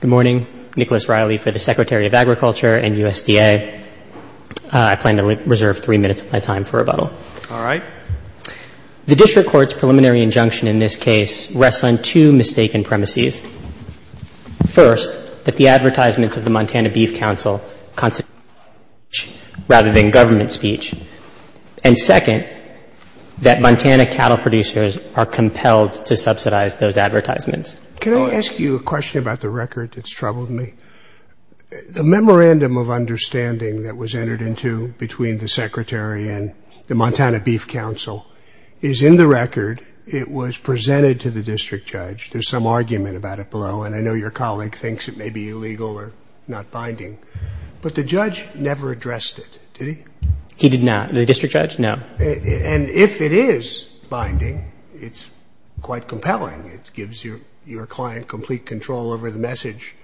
Good morning. Nicholas Reilly for the Secretary of Agriculture and USDA. I plan to reserve three minutes of my time for rebuttal. All right. The District Court's preliminary injunction in this case rests on two mistaken premises. First, that the advertisements of the Montana Beef Council constitute government speech rather than government speech. And second, that Montana cattle producers are compelled to subsidize those advertisements. Can I ask you a question about the record that's troubled me? The memorandum of understanding that was entered into between the Secretary and the Montana Beef Council is in the record. It was presented to the district judge. There's some argument about it below, and I know your colleague thinks it may be illegal or not binding. But the judge never addressed it, did he? He did not. The district judge, no. And if it is binding, it's quite compelling. It gives your client complete control over the message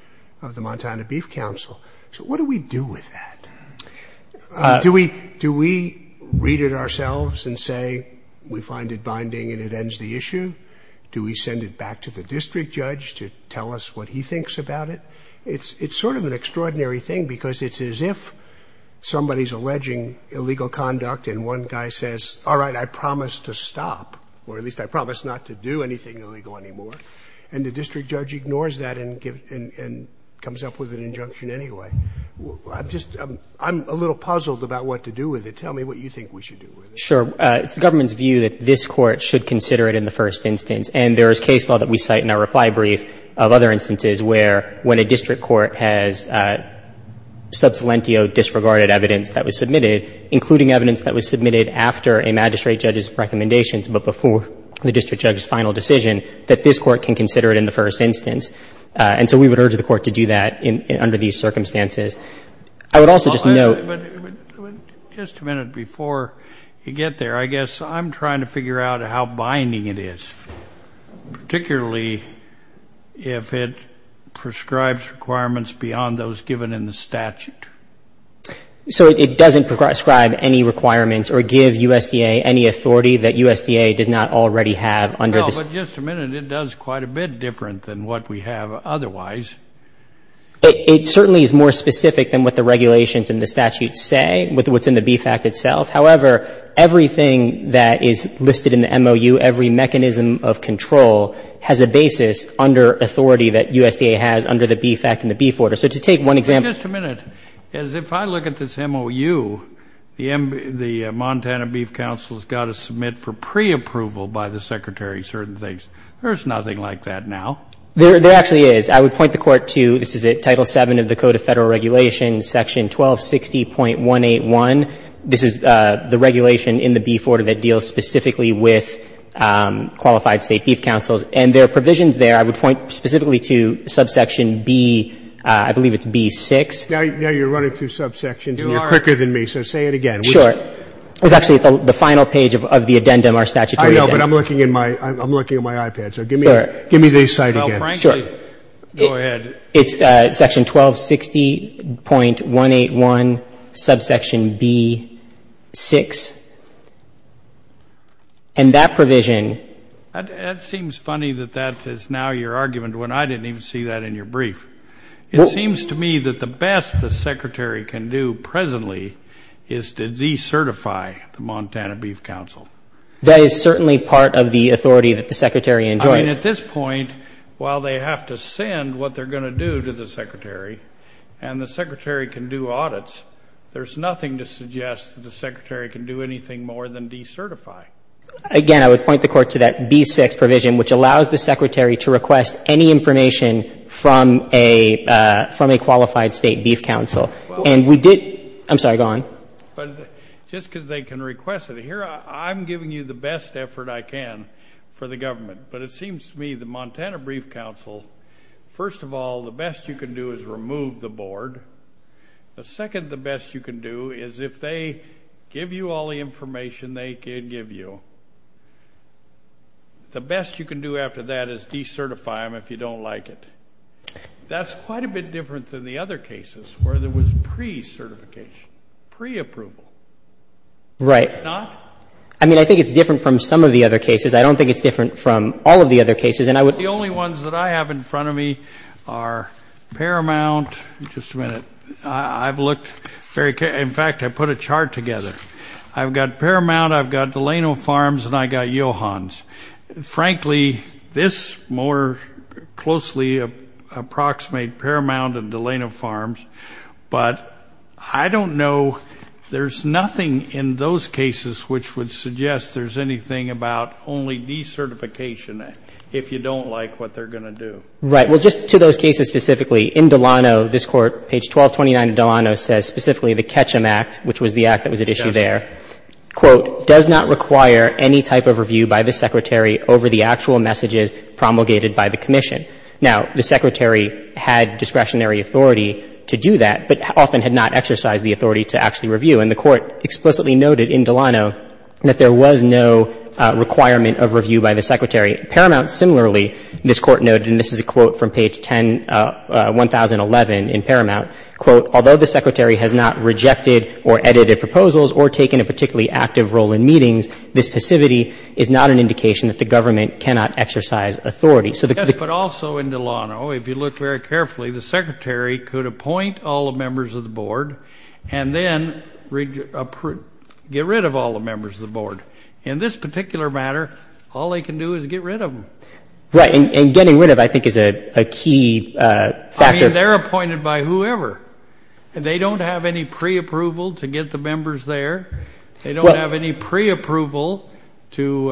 of the Montana Beef Council. So what do we do with that? Do we read it ourselves and say we find it binding and it ends the issue? Do we send it back to the district judge to tell us what he thinks about it? It's sort of an extraordinary thing because it's as if somebody is alleging illegal conduct and one guy says, all right, I promise to stop, or at least I promise not to do anything illegal anymore. And the district judge ignores that and comes up with an injunction anyway. I'm just — I'm a little puzzled about what to do with it. Tell me what you think we should do with it. Sure. It's the government's view that this Court should consider it in the first instance. And there is case law that we cite in our reply brief of other instances where when a district court has sub salientio disregarded evidence that was submitted, including evidence that was submitted after a magistrate judge's recommendations but before the district judge's final decision, that this Court can consider it in the first instance. And so we would urge the Court to do that under these circumstances. I would also just note — But just a minute before you get there, I guess I'm trying to figure out how binding it is, particularly if it prescribes requirements beyond those given in the statute. So it doesn't prescribe any requirements or give USDA any authority that USDA does not already have under the statute. Well, but just a minute, it does quite a bit different than what we have otherwise. It certainly is more specific than what the regulations in the statute say, what's in the BFAC itself. However, everything that is listed in the MOU, every mechanism of control, has a basis under authority that USDA has under the BFAC and the beef order. So to take one example — But just a minute. If I look at this MOU, the Montana Beef Council has got to submit for preapproval by the Secretary certain things. There's nothing like that now. There actually is. I would point the Court to, this is it, Title VII of the Code of Federal Regulations, Section 1260.181. This is the regulation in the beef order that deals specifically with qualified State Beef Councils. And there are provisions there. I would point specifically to subsection B, I believe it's B6. Now you're running through subsections and you're quicker than me, so say it again. Sure. It's actually the final page of the addendum, our statutory addendum. I know, but I'm looking at my iPad, so give me the site again. Sure. Go ahead. It's Section 1260.181, subsection B6. And that provision — That seems funny that that is now your argument when I didn't even see that in your brief. It seems to me that the best the Secretary can do presently is to decertify the Montana Beef Council. That is certainly part of the authority that the Secretary enjoys. I mean, at this point, while they have to send what they're going to do to the Secretary, and the Secretary can do audits, there's nothing to suggest that the Secretary can do anything more than decertify. Again, I would point the Court to that B6 provision, which allows the Secretary to request any information from a qualified State Beef Council. And we did — I'm sorry, go on. Just because they can request it. I'm giving you the best effort I can for the government. But it seems to me the Montana Beef Council, first of all, the best you can do is remove the board. The second best you can do is if they give you all the information they can give you, the best you can do after that is decertify them if you don't like it. That's quite a bit different than the other cases where there was pre-certification, pre-approval. Right. I mean, I think it's different from some of the other cases. I don't think it's different from all of the other cases. The only ones that I have in front of me are Paramount. Just a minute. I've looked — in fact, I put a chart together. I've got Paramount, I've got Delano Farms, and I've got Johans. Frankly, this more closely approximates Paramount and Delano Farms. But I don't know — there's nothing in those cases which would suggest there's anything about only decertification if you don't like what they're going to do. Right. Well, just to those cases specifically, in Delano, this Court, page 1229 of Delano, says specifically the Ketchum Act, which was the act that was at issue there, quote, does not require any type of review by the secretary over the actual messages promulgated by the commission. Now, the secretary had discretionary authority to do that, but often had not exercised the authority to actually review. And the Court explicitly noted in Delano that there was no requirement of review by the secretary. Paramount, similarly, this Court noted, and this is a quote from page 10 — 1011 in Paramount, quote, although the secretary has not rejected or edited proposals or taken a particularly active role in meetings, this passivity is not an indication that the government cannot exercise authority. Yes, but also in Delano, if you look very carefully, the secretary could appoint all the members of the board and then get rid of all the members of the board. In this particular matter, all they can do is get rid of them. Right. And getting rid of, I think, is a key factor. I mean, they're appointed by whoever. They don't have any preapproval to get the members there. They don't have any preapproval to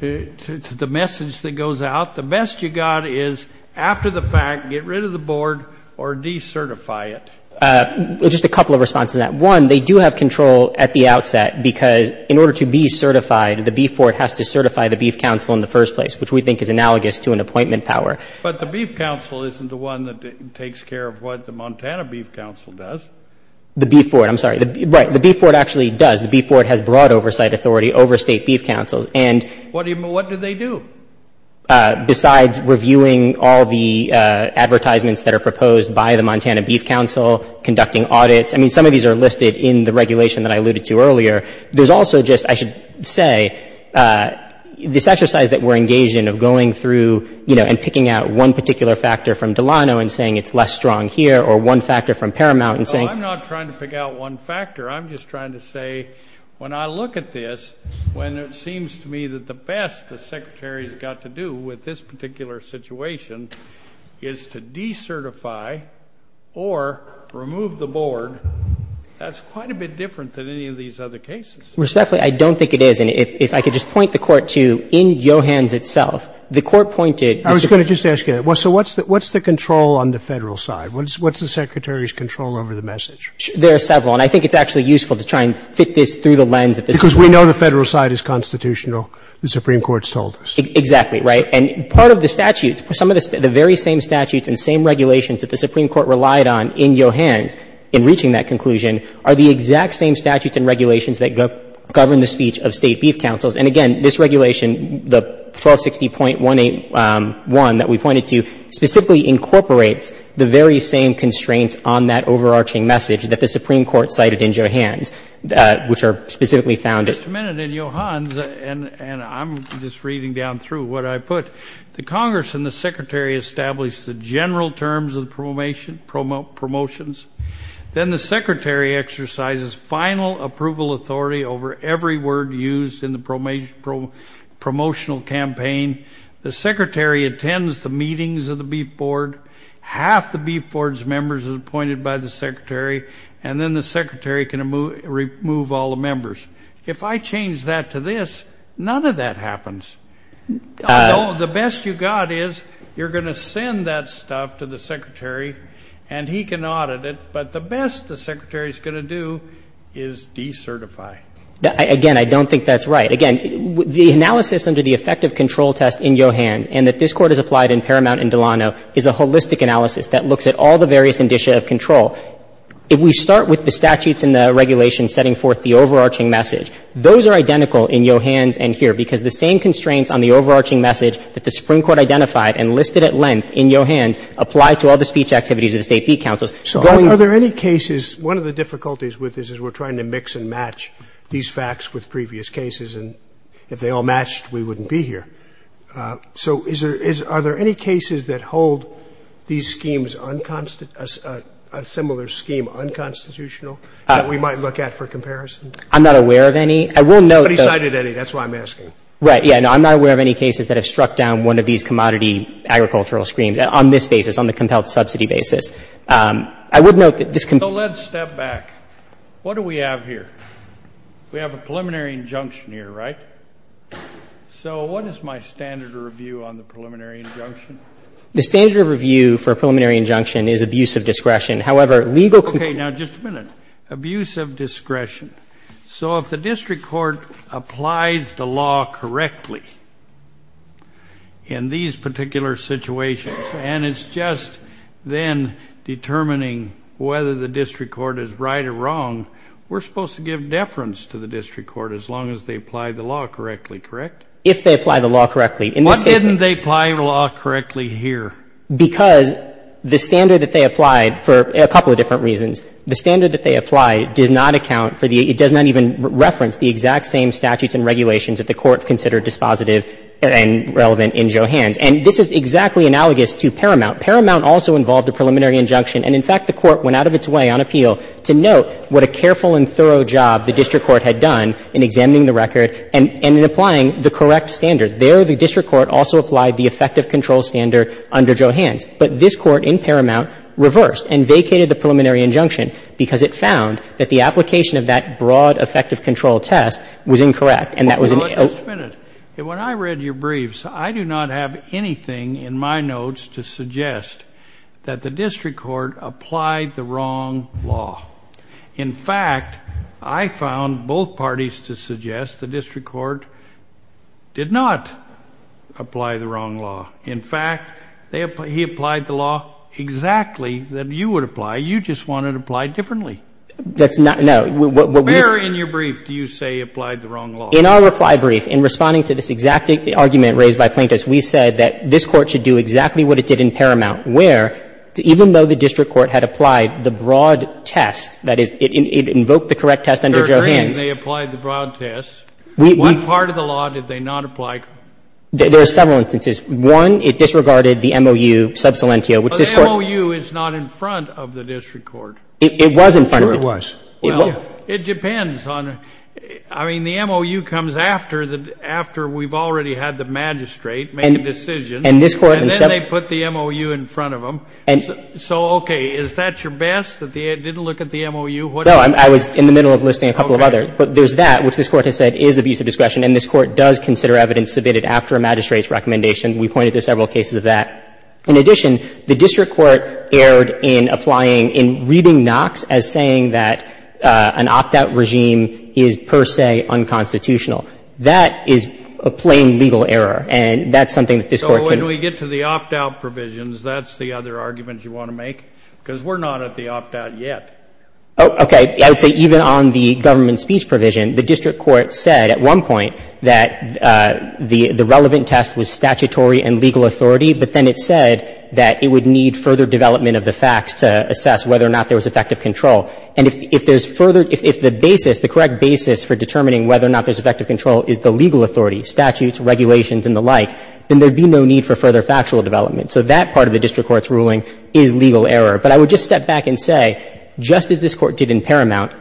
the message that goes out. The best you got is after the fact, get rid of the board or decertify it. Just a couple of responses to that. One, they do have control at the outset because in order to be certified, the Beef Board has to certify the Beef Council in the first place, which we think is analogous to an appointment power. But the Beef Council isn't the one that takes care of what the Montana Beef Council does. The Beef Board. I'm sorry. Right. The Beef Board actually does. The Beef Board has broad oversight authority over State Beef Councils. And what do they do? Besides reviewing all the advertisements that are proposed by the Montana Beef Council, conducting audits. I mean, some of these are listed in the regulation that I alluded to earlier. There's also just, I should say, this exercise that we're engaged in of going through, you know, and picking out one particular factor from Delano and saying it's less strong here or one factor from Paramount and saying. I'm not trying to pick out one factor. I'm just trying to say when I look at this, when it seems to me that the best the Secretary's got to do with this particular situation is to decertify or remove the board, that's quite a bit different than any of these other cases. Respectfully, I don't think it is. And if I could just point the Court to in Johans itself, the Court pointed. I was going to just ask you that. So what's the control on the Federal side? What's the Secretary's control over the message? There are several. And I think it's actually useful to try and fit this through the lens at this point. Because we know the Federal side is constitutional, the Supreme Court's told us. Exactly, right. And part of the statutes, some of the very same statutes and same regulations that the Supreme Court relied on in Johans in reaching that conclusion are the exact same statutes and regulations that govern the speech of State Beef Councils. And, again, this regulation, the 1260.181 that we pointed to, specifically incorporates the very same constraints on that overarching message that the Supreme Court cited in Johans, which are specifically found. Just a minute. In Johans, and I'm just reading down through what I put, the Congress and the Secretary established the general terms of the promotions. Then the Secretary exercises final approval authority over every word used in the promotional campaign. The Secretary attends the meetings of the Beef Board. Half the Beef Board's members are appointed by the Secretary. And then the Secretary can remove all the members. If I change that to this, none of that happens. The best you got is you're going to send that stuff to the Secretary and he can audit it, but the best the Secretary's going to do is decertify. Again, I don't think that's right. Again, the analysis under the effective control test in Johans and that this Court has applied in Paramount and Delano is a holistic analysis that looks at all the various indicia of control. If we start with the statutes and the regulations setting forth the overarching message, those are identical in Johans and here, because the same constraints on the overarching message that the Supreme Court identified and listed at length in Johans apply to all the speech activities of the State Beef Councils. So are there any cases, one of the difficulties with this is we're trying to mix and match these facts with previous cases, and if they all matched, we wouldn't be here. So is there, are there any cases that hold these schemes unconstitutional, a similar scheme unconstitutional that we might look at for comparison? I'm not aware of any. I will note that. But he cited any. That's why I'm asking. Right. Yeah. No, I'm not aware of any cases that have struck down one of these commodity agricultural schemes on this basis, on the compelled subsidy basis. I would note that this can be. So let's step back. What do we have here? We have a preliminary injunction here, right? So what is my standard of review on the preliminary injunction? The standard of review for a preliminary injunction is abuse of discretion. However, legal control. Now, just a minute. Abuse of discretion. So if the district court applies the law correctly in these particular situations and it's just then determining whether the district court is right or wrong, we're supposed to give deference to the district court as long as they apply the law correctly, correct? If they apply the law correctly. What didn't they apply the law correctly here? Because the standard that they applied for a couple of different reasons. The standard that they applied does not account for the — it does not even reference the exact same statutes and regulations that the Court considered dispositive and relevant in Johans. And this is exactly analogous to Paramount. Paramount also involved a preliminary injunction. And, in fact, the Court went out of its way on appeal to note what a careful and thorough job the district court had done in examining the record and in applying the correct standard. There, the district court also applied the effective control standard under Johans. But this Court in Paramount reversed and vacated the preliminary injunction because it found that the application of that broad effective control test was incorrect, and that was an — Well, just a minute. When I read your briefs, I do not have anything in my notes to suggest that the district court applied the wrong law. In fact, I found both parties to suggest the district court did not apply the wrong law. In fact, they — he applied the law exactly that you would apply. You just wanted to apply it differently. That's not — no. Where in your brief do you say he applied the wrong law? In our reply brief, in responding to this exact argument raised by Plaintiffs, we said that this Court should do exactly what it did in Paramount, where even though the district court had applied the broad test, that is, it invoked the correct test under Johans — They're agreeing they applied the broad test. What part of the law did they not apply? There are several instances. One, it disregarded the MOU sub salientio, which this Court — But the MOU is not in front of the district court. It was in front of it. Sure it was. Well, it depends on — I mean, the MOU comes after the — after we've already had the magistrate make a decision. And this Court — And then they put the MOU in front of them. So, okay. Is that your best, that they didn't look at the MOU? No. I was in the middle of listing a couple of others. But there's that, which this Court has said is abuse of discretion, and this Court does consider evidence submitted after a magistrate's recommendation. We pointed to several cases of that. In addition, the district court erred in applying — in reading Knox as saying that an opt-out regime is per se unconstitutional. That is a plain legal error, and that's something that this Court can — And when we get to the opt-out provisions, that's the other argument you want to make, because we're not at the opt-out yet. Oh, okay. I would say even on the government speech provision, the district court said at one point that the relevant test was statutory and legal authority, but then it said that it would need further development of the facts to assess whether or not there was effective control. And if there's further — if the basis, the correct basis for determining whether or not there's effective control is the legal authority, statutes, regulations and the like, then there would be no need for further factual development. So that part of the district court's ruling is legal error. But I would just step back and say, just as this Court did in Paramount,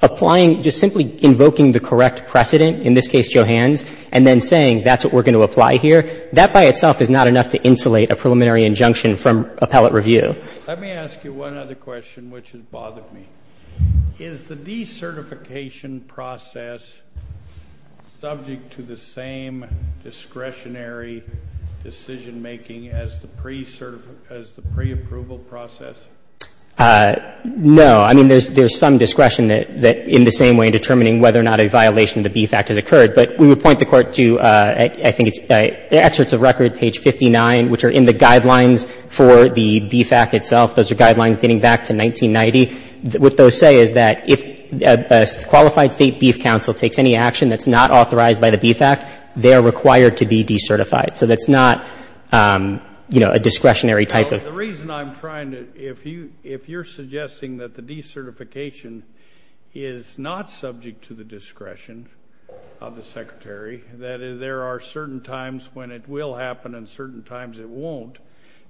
applying — just simply invoking the correct precedent, in this case, Johans, and then saying that's what we're going to apply here, that by itself is not enough to insulate a preliminary injunction from appellate review. Let me ask you one other question, which has bothered me. Is the decertification process subject to the same discretionary decision-making as the pre-certification — as the preapproval process? No. I mean, there's some discretion that, in the same way, determining whether or not a violation of the BFACT has occurred. But we would point the Court to, I think it's — the excerpts of record, page 59, which are in the guidelines for the BFACT itself. Those are guidelines dating back to 1990. What those say is that if a qualified State Beef Council takes any action that's not authorized by the BFACT, they are required to be decertified. So that's not, you know, a discretionary type of — The reason I'm trying to — if you're suggesting that the decertification is not subject to the discretion of the Secretary, that there are certain times when it will happen and certain times it won't.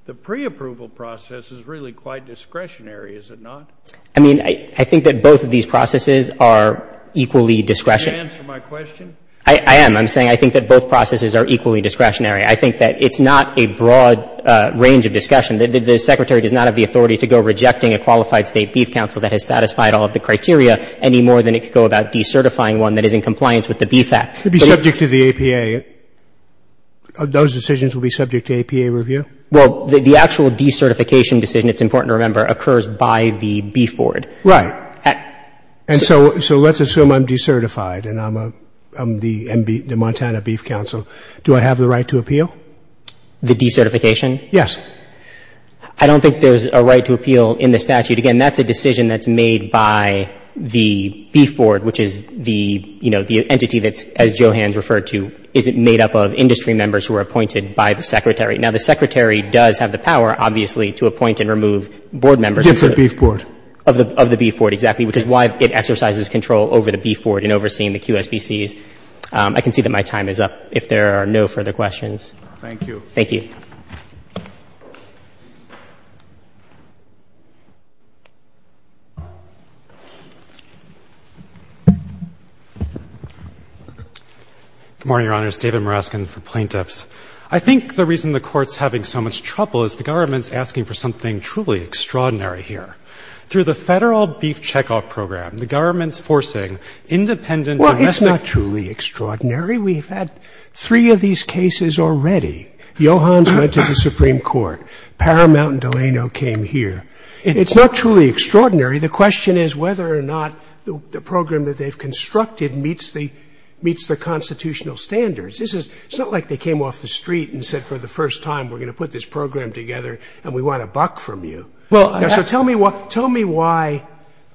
The preapproval process is really quite discretionary, is it not? I mean, I think that both of these processes are equally discretionary. Can you answer my question? I am. I'm saying I think that both processes are equally discretionary. I think that it's not a broad range of discussion. The Secretary does not have the authority to go rejecting a qualified State Beef Council that has satisfied all of the criteria any more than it could go about decertifying one that is in compliance with the BFACT. It would be subject to the APA. Those decisions would be subject to APA review? Well, the actual decertification decision, it's important to remember, occurs by the Beef Board. Right. And so let's assume I'm decertified and I'm the Montana Beef Council. Do I have the right to appeal? The decertification? Yes. I don't think there's a right to appeal in the statute. Again, that's a decision that's made by the Beef Board, which is the, you know, the entity that's, as Johan's referred to, is made up of industry members who are appointed by the Secretary. Now, the Secretary does have the power, obviously, to appoint and remove board members of the Beef Board. Of the Beef Board, exactly, which is why it exercises control over the Beef Board in overseeing the QSBCs. I can see that my time is up if there are no further questions. Thank you. Thank you. Good morning, Your Honors. David Moreskin for Plaintiffs. I think the reason the Court's having so much trouble is the government's asking for something truly extraordinary here. Through the Federal Beef Checkoff Program, the government's forcing independent domestic- Well, it's not truly extraordinary. We've had three of these cases already. Johan's went to the Supreme Court. Paramount and Delano came here. It's not truly extraordinary. The question is whether or not the program that they've constructed meets the constitutional standards. It's not like they came off the street and said for the first time, we're going to put this program together and we want a buck from you. So tell me why,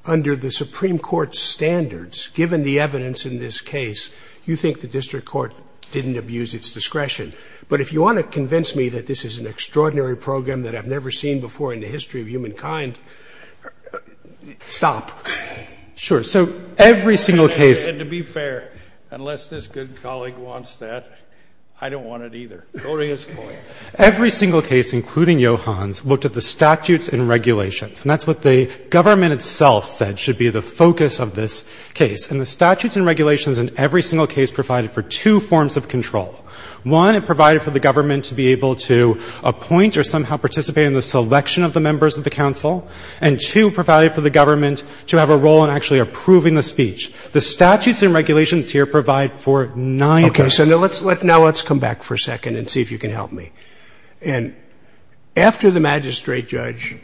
under the Supreme Court's standards, given the evidence in this case, you think the district court didn't abuse its discretion. But if you want to convince me that this is an extraordinary program that I've never seen before in the history of humankind, stop. Sure. So every single case- And to be fair, unless this good colleague wants that, I don't want it either. Go to his point. Every single case, including Johan's, looked at the statutes and regulations. And that's what the government itself said should be the focus of this case. And the statutes and regulations in every single case provided for two forms of control. One, it provided for the government to be able to appoint or somehow participate in the selection of the members of the council. And, two, provided for the government to have a role in actually approving the speech. The statutes and regulations here provide for neither. Okay. So now let's come back for a second and see if you can help me. And after the magistrate judge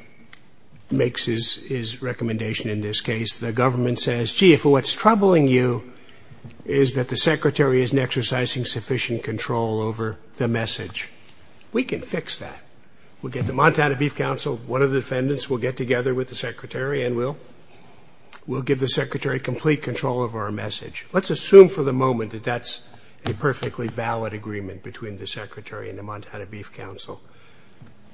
makes his recommendation in this case, the government says, gee, if what's troubling you is that the secretary isn't exercising sufficient control over the message, we can fix that. We'll get the Montana Beef Council, one of the defendants will get together with the secretary and we'll give the secretary complete control over our message. Let's assume for the moment that that's a perfectly valid agreement between the secretary and the Montana Beef Council.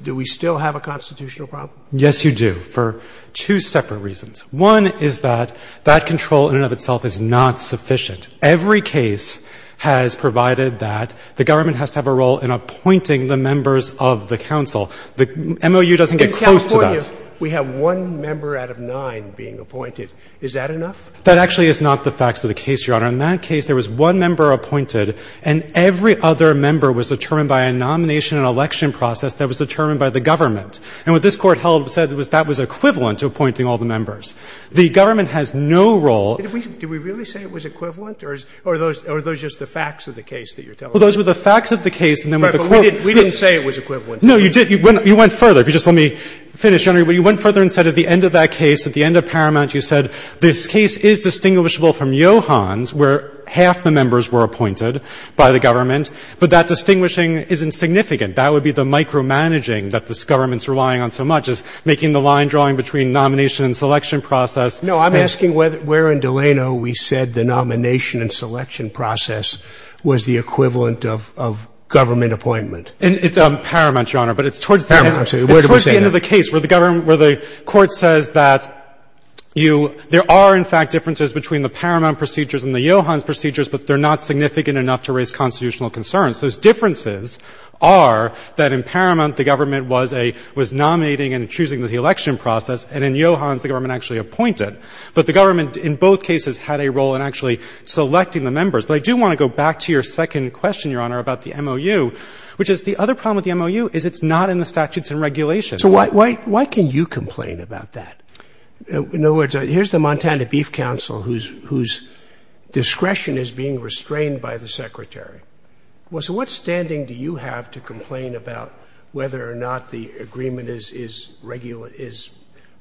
Do we still have a constitutional problem? Yes, you do, for two separate reasons. One is that that control in and of itself is not sufficient. Every case has provided that the government has to have a role in appointing the members of the council. The MOU doesn't get close to that. In California, we have one member out of nine being appointed. Is that enough? That actually is not the facts of the case, Your Honor. In that case, there was one member appointed and every other member was determined by a nomination and election process that was determined by the government. And what this Court held and said was that was equivalent to appointing all the members. The government has no role. Did we really say it was equivalent or are those just the facts of the case that you're telling us? Well, those were the facts of the case and then what the Court said. Right, but we didn't say it was equivalent. No, you did. You went further. If you just let me finish, Your Honor. You went further and said at the end of that case, at the end of Paramount, you said this case is distinguishable from Johan's where half the members were appointed by the government, but that distinguishing isn't significant. That would be the micromanaging that this government is relying on so much is making the line drawing between nomination and selection process. No, I'm asking where in Delano we said the nomination and selection process was the equivalent of government appointment. It's on Paramount, Your Honor, but it's towards the end of the case where the government — where the Court says that you — there are, in fact, differences between the Paramount procedures and the Johan's procedures, but they're not significant enough to raise constitutional concerns. Those differences are that in Paramount the government was a — was nominating and choosing the election process, and in Johan's the government actually appointed. But the government in both cases had a role in actually selecting the members. But I do want to go back to your second question, Your Honor, about the MOU, which is the other problem with the MOU is it's not in the statutes and regulations. So why — why can you complain about that? In other words, here's the Montana Beef Council whose — whose discretion is being restrained by the Secretary. Well, so what standing do you have to complain about whether or not the agreement is — is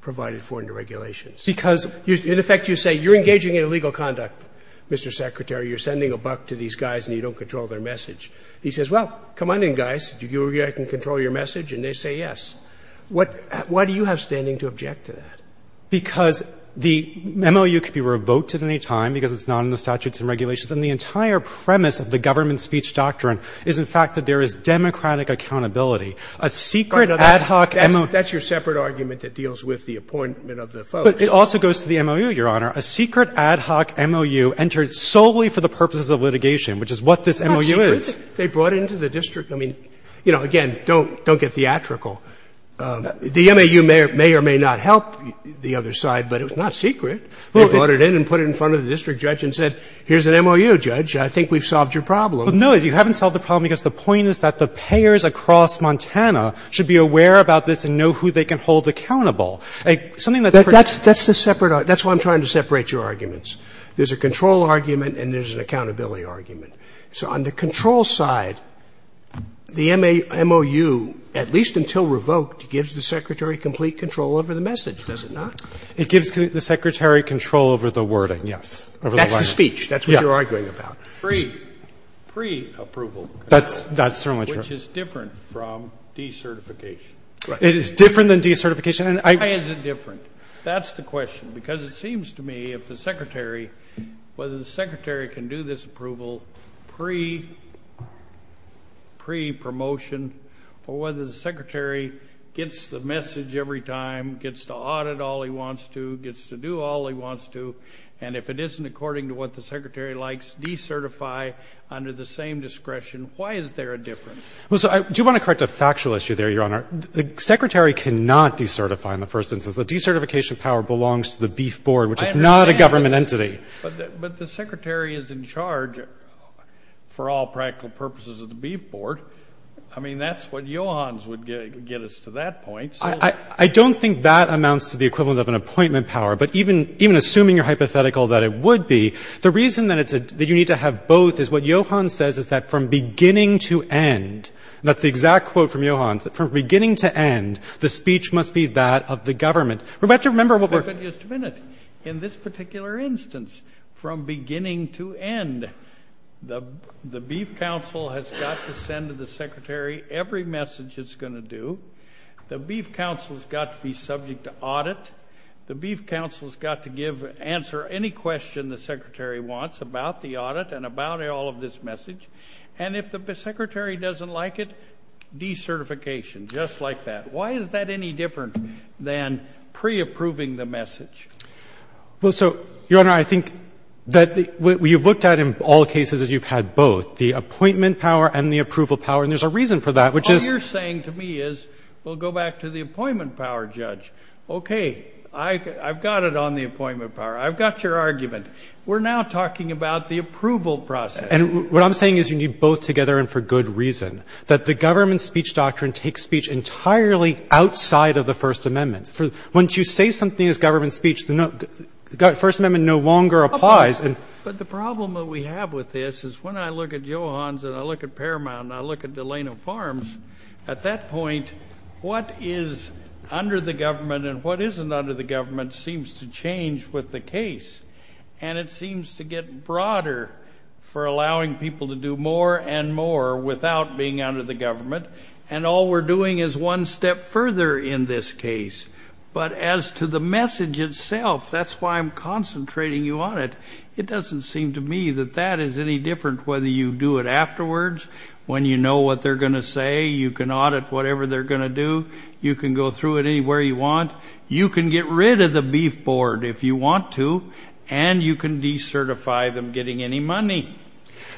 provided for in the regulations? Because in effect you say you're engaging in illegal conduct, Mr. Secretary. You're sending a buck to these guys and you don't control their message. He says, well, come on in, guys. Do you think I can control your message? And they say yes. What — why do you have standing to object to that? Because the MOU could be revoked at any time because it's not in the statutes and regulations. And the entire premise of the government speech doctrine is, in fact, that there is democratic accountability. A secret ad hoc MOU — That's your separate argument that deals with the appointment of the folks. But it also goes to the MOU, Your Honor. A secret ad hoc MOU entered solely for the purposes of litigation, which is what this MOU is. It's not secret. They brought it into the district. I mean, you know, again, don't — don't get theatrical. The MOU may or may not help the other side, but it was not secret. They brought it in and put it in front of the district judge and said, here's an MOU, judge. I think we've solved your problem. But no, you haven't solved the problem because the point is that the payers across Montana should be aware about this and know who they can hold accountable. Something that's — That's the separate — that's why I'm trying to separate your arguments. There's a control argument and there's an accountability argument. So on the control side, the MOU, at least until revoked, gives the Secretary complete control over the message, does it not? It gives the Secretary control over the wording, yes. That's the speech. That's what you're arguing about. Pre-approval. That's certainly true. Which is different from decertification. It is different than decertification. Why is it different? That's the question. Because it seems to me if the Secretary — whether the Secretary can do this approval pre-promotion or whether the Secretary gets the message every time, gets to audit all he wants to, gets to do all he wants to, and if it isn't according to what the Secretary likes, decertify under the same discretion. Why is there a difference? Well, so I do want to correct a factual issue there, Your Honor. The Secretary cannot decertify in the first instance. The decertification power belongs to the Beef Board, which is not a government entity. But the Secretary is in charge for all practical purposes of the Beef Board. I mean, that's what Johans would get us to that point. I don't think that amounts to the equivalent of an appointment power. But even assuming you're hypothetical that it would be, the reason that it's — that you need to have both is what Johans says is that from beginning to end — that's the exact quote from Johans — that from beginning to end, the speech must be that of the government. We have to remember what we're — But just a minute. In this particular instance, from beginning to end, the Beef Council has got to send to the Secretary every message it's going to do. The Beef Council has got to be subject to audit. The Beef Council has got to give — answer any question the Secretary wants about the audit and about all of this message. And if the Secretary doesn't like it, decertification, just like that. Why is that any different than pre-approving the message? Well, so, Your Honor, I think that the — what you've looked at in all cases is you've had both, the appointment power and the approval power. And there's a reason for that, which is — What you're saying to me is, well, go back to the appointment power, Judge. Okay. I've got it on the appointment power. I've got your argument. We're now talking about the approval process. And what I'm saying is you need both together and for good reason, that the government speech doctrine takes speech entirely outside of the First Amendment. Once you say something is government speech, the First Amendment no longer applies. But the problem that we have with this is when I look at Johans and I look at Paramount and I look at Delano Farms, at that point, what is under the government and what isn't under the government seems to change with the case. And it seems to get broader for allowing people to do more and more without being under the government. And all we're doing is one step further in this case. But as to the message itself, that's why I'm concentrating you on it. It doesn't seem to me that that is any different whether you do it afterwards, when you know what they're going to say, you can audit whatever they're going to do, you can go through it anywhere you want, you can get rid of the beef board if you want to, and you can decertify them getting any money.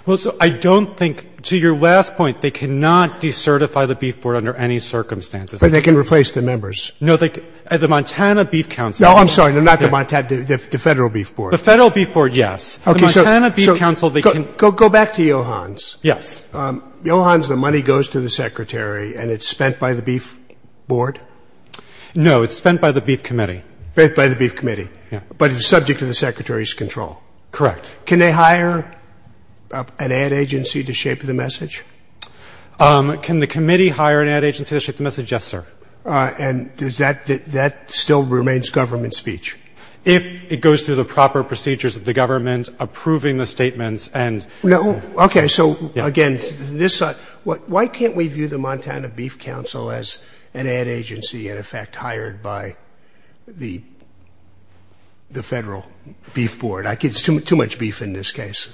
Well, so I don't think — to your last point, they cannot decertify the beef board under any circumstances. But they can replace the members. No, the Montana Beef Council — No, I'm sorry. Not the Montana — the federal beef board. The federal beef board, yes. The Montana Beef Council, they can — Go back to Johans. Yes. Johans, the money goes to the secretary and it's spent by the beef board? No, it's spent by the beef committee. Spent by the beef committee. Yeah. But it's subject to the secretary's control. Correct. Can they hire an ad agency to shape the message? Can the committee hire an ad agency to shape the message? Yes, sir. And does that — that still remains government speech? If it goes through the proper procedures of the government approving the statements and — No. Okay. So, again, this — why can't we view the Montana Beef Council as an ad agency, in effect, hired by the federal beef board? It's too much beef in this case.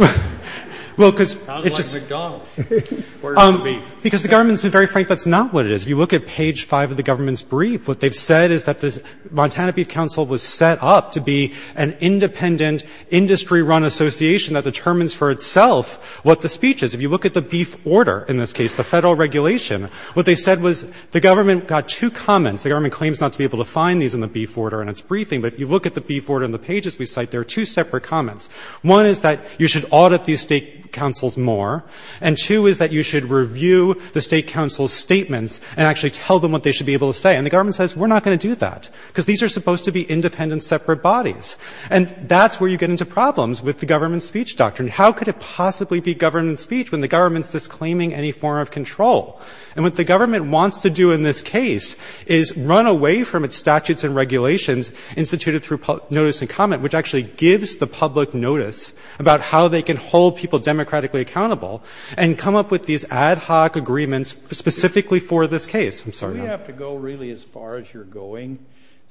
Well, because — Sounds like McDonald's. Where's the beef? Because the government's been very frank. That's not what it is. If you look at page five of the government's brief, what they've said is that the Montana Beef Council was set up to be an independent, industry-run association that determines for itself what the speech is. If you look at the beef order in this case, the federal regulation, what they said was the government got two comments. The government claims not to be able to find these in the beef order in its briefing, but if you look at the beef order in the pages we cite, there are two separate comments. One is that you should audit these state councils more, and two is that you should review the state council's statements and actually tell them what they should be able to say. And the government says, we're not going to do that, because these are supposed to be independent, separate bodies. And that's where you get into problems with the government's speech doctrine. How could it possibly be government speech when the government's disclaiming any form of control? And what the government wants to do in this case is run away from its statutes and regulations instituted through notice and comment, which actually gives the public notice about how they can hold people democratically accountable and come up with these ad hoc agreements specifically for this case. I'm sorry. We have to go really as far as you're going,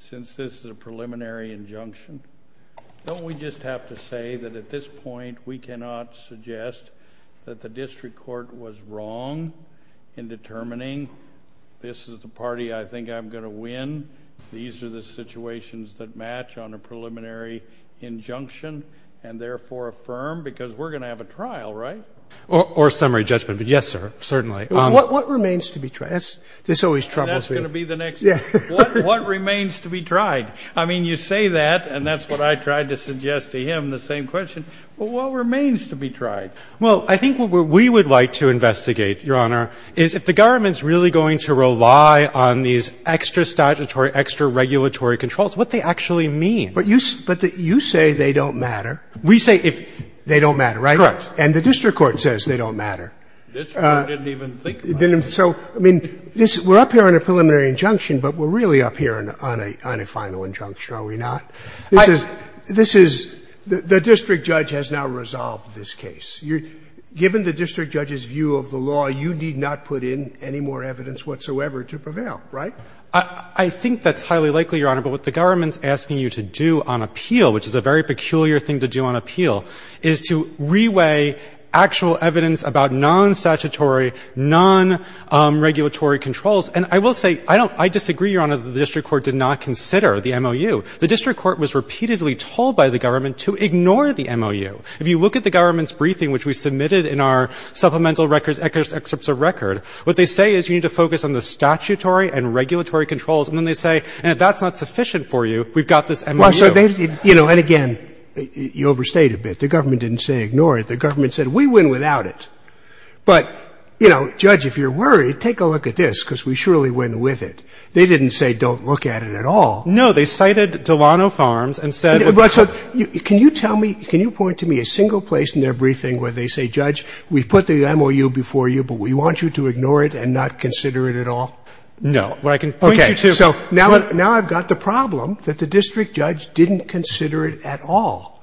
since this is a preliminary injunction. Don't we just have to say that at this point we cannot suggest that the district court was wrong in determining this is the party I think I'm going to win? These are the situations that match on a preliminary injunction, and therefore affirm? Because we're going to have a trial, right? Or a summary judgment. But yes, sir, certainly. Well, what remains to be tried? This always troubles me. And that's going to be the next. Yeah. What remains to be tried? I mean, you say that, and that's what I tried to suggest to him, the same question. What remains to be tried? Well, I think what we would like to investigate, Your Honor, is if the government is really going to rely on these extra statutory, extra regulatory controls, what they actually mean. But you say they don't matter. We say they don't matter, right? Correct. And the district court says they don't matter. District court didn't even think about it. So, I mean, we're up here on a preliminary injunction, but we're really up here on a final injunction, are we not? This is the district judge has now resolved this case. Given the district judge's view of the law, you need not put in any more evidence whatsoever to prevail, right? I think that's highly likely, Your Honor. But what the government is asking you to do on appeal, which is a very peculiar thing to do on appeal, is to reweigh actual evidence about non-statutory, non-regulatory controls. And I will say, I don't — I disagree, Your Honor, that the district court did not consider the MOU. The district court was repeatedly told by the government to ignore the MOU. If you look at the government's briefing, which we submitted in our supplemental records, excerpts of record, what they say is you need to focus on the statutory and regulatory controls. And then they say, and if that's not sufficient for you, we've got this MOU. And again, you overstayed a bit. The government didn't say ignore it. The government said we win without it. But, you know, Judge, if you're worried, take a look at this, because we surely win with it. They didn't say don't look at it at all. No. They cited Delano Farms and said — But so can you tell me — can you point to me a single place in their briefing where they say, Judge, we've put the MOU before you, but we want you to ignore it and not consider it at all? No. But I can point you to — So now I've got the problem that the district judge didn't consider it at all.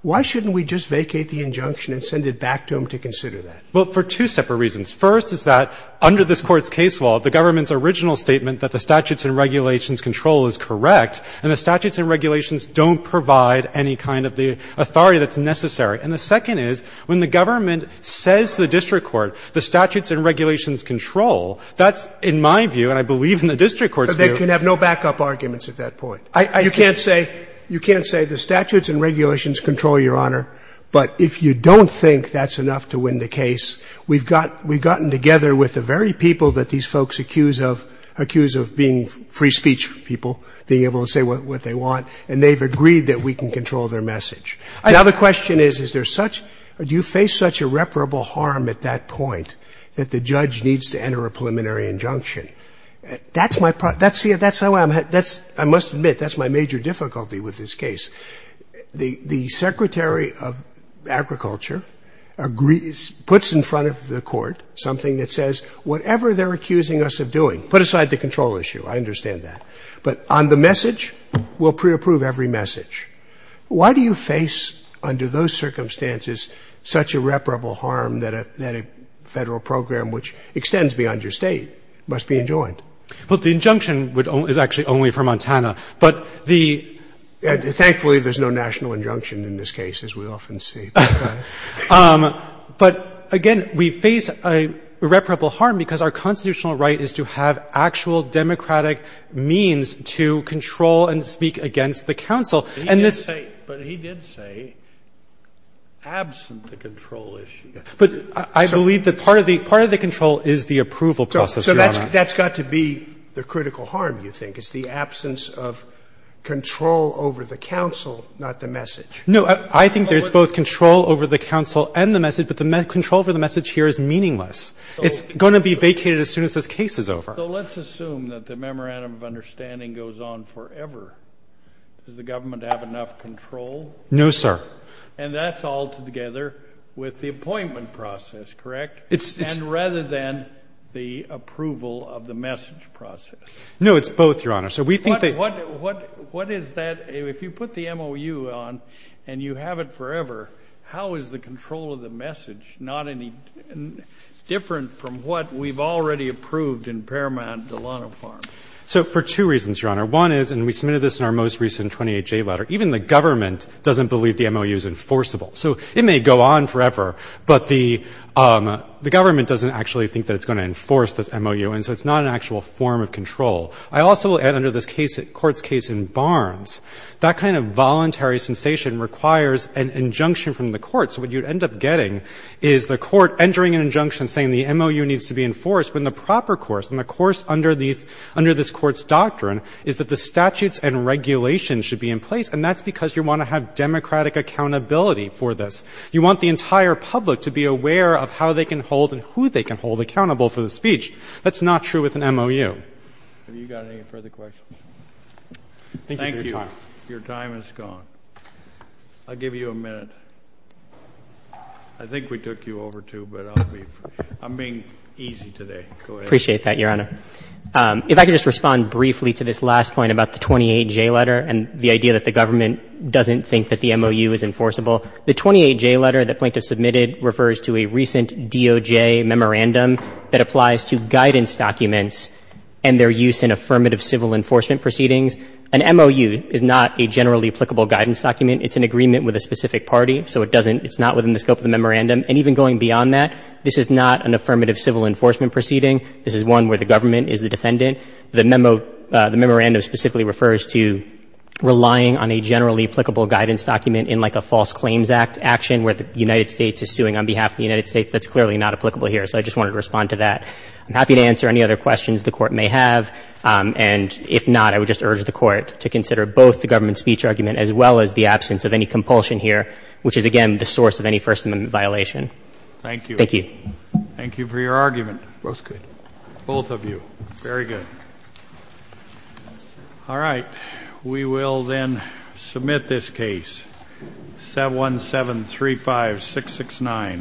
Why shouldn't we just vacate the injunction and send it back to him to consider that? Well, for two separate reasons. First is that under this Court's case law, the government's original statement that the statutes and regulations control is correct, and the statutes and regulations don't provide any kind of the authority that's necessary. And the second is when the government says to the district court, the statutes and regulations control, that's, in my view, and I believe in the district court's view — But they can have no backup arguments at that point. I think — You can't say — you can't say the statutes and regulations control, Your Honor, but if you don't think that's enough to win the case, we've got — we've gotten together with the very people that these folks accuse of — accuse of being free speech people, being able to say what they want, and they've agreed that we can control their message. Now, the question is, is there such — do you face such irreparable harm at that point that the judge needs to enter a preliminary injunction? That's my — that's the — that's the way I'm — that's — I must admit, that's my major difficulty with this case. The secretary of agriculture agrees — puts in front of the court something that says whatever they're accusing us of doing — put aside the control issue, I understand that — but on the message, we'll pre-approve every message. Why do you face, under those circumstances, such irreparable harm that a — that a federal program, which extends beyond your state, must be enjoined? Well, the injunction would — is actually only for Montana. But the — Thankfully, there's no national injunction in this case, as we often see. But, again, we face irreparable harm because our constitutional right is to have actual democratic means to control and speak against the counsel. And this — But he did say, absent the control issue. But I believe that part of the — part of the control is the approval process, Your Honor. So that's got to be the critical harm, you think, is the absence of control over the counsel, not the message. No, I think there's both control over the counsel and the message, but the control for the message here is meaningless. It's going to be vacated as soon as this case is over. So let's assume that the memorandum of understanding goes on forever. Does the government have enough control? No, sir. And that's altogether with the appointment process, correct? It's — And rather than the approval of the message process. No, it's both, Your Honor. So we think that — What — what — what is that — if you put the MOU on and you have it forever, how is the control of the message not any different from what we've already approved in Paramount and Delano Farms? So for two reasons, Your Honor. One is — and we submitted this in our most recent 28-J letter. Even the government doesn't believe the MOU is enforceable. So it may go on forever, but the government doesn't actually think that it's going to enforce this MOU, and so it's not an actual form of control. I also — and under this case, this Court's case in Barnes, that kind of voluntary sensation requires an injunction from the court. So what you'd end up getting is the court entering an injunction saying the MOU needs to be enforced when the proper course, and the course under these — under this Court's doctrine is that the statutes and regulations should be in place, and that's because you want to have democratic accountability for this. You want the entire public to be aware of how they can hold and who they can hold accountable for the speech. That's not true with an MOU. Have you got any further questions? Thank you for your time. Your time has gone. I'll give you a minute. I think we took you over, too, but I'll leave. I'm being easy today. Go ahead. I appreciate that, Your Honor. If I could just respond briefly to this last point about the 28-J letter and the idea that the government doesn't think that the MOU is enforceable. The 28-J letter that Plankton submitted refers to a recent DOJ memorandum that applies to guidance documents and their use in affirmative civil enforcement proceedings. An MOU is not a generally applicable guidance document. It's an agreement with a specific party. So it doesn't — it's not within the scope of the memorandum. And even going beyond that, this is not an affirmative civil enforcement proceeding. This is one where the government is the defendant. The memo — the memorandum specifically refers to relying on a generally applicable guidance document in, like, a false claims act — action where the United States is suing on behalf of the United States. That's clearly not applicable here. So I just wanted to respond to that. I'm happy to answer any other questions the Court may have. And if not, I would just urge the Court to consider both the government speech argument as well as the absence of any compulsion here, which is, again, the source of any First Amendment violation. Thank you. Thank you. Thank you for your argument. Both good. Both of you. Very good. All right. We will then submit this case, 71735669.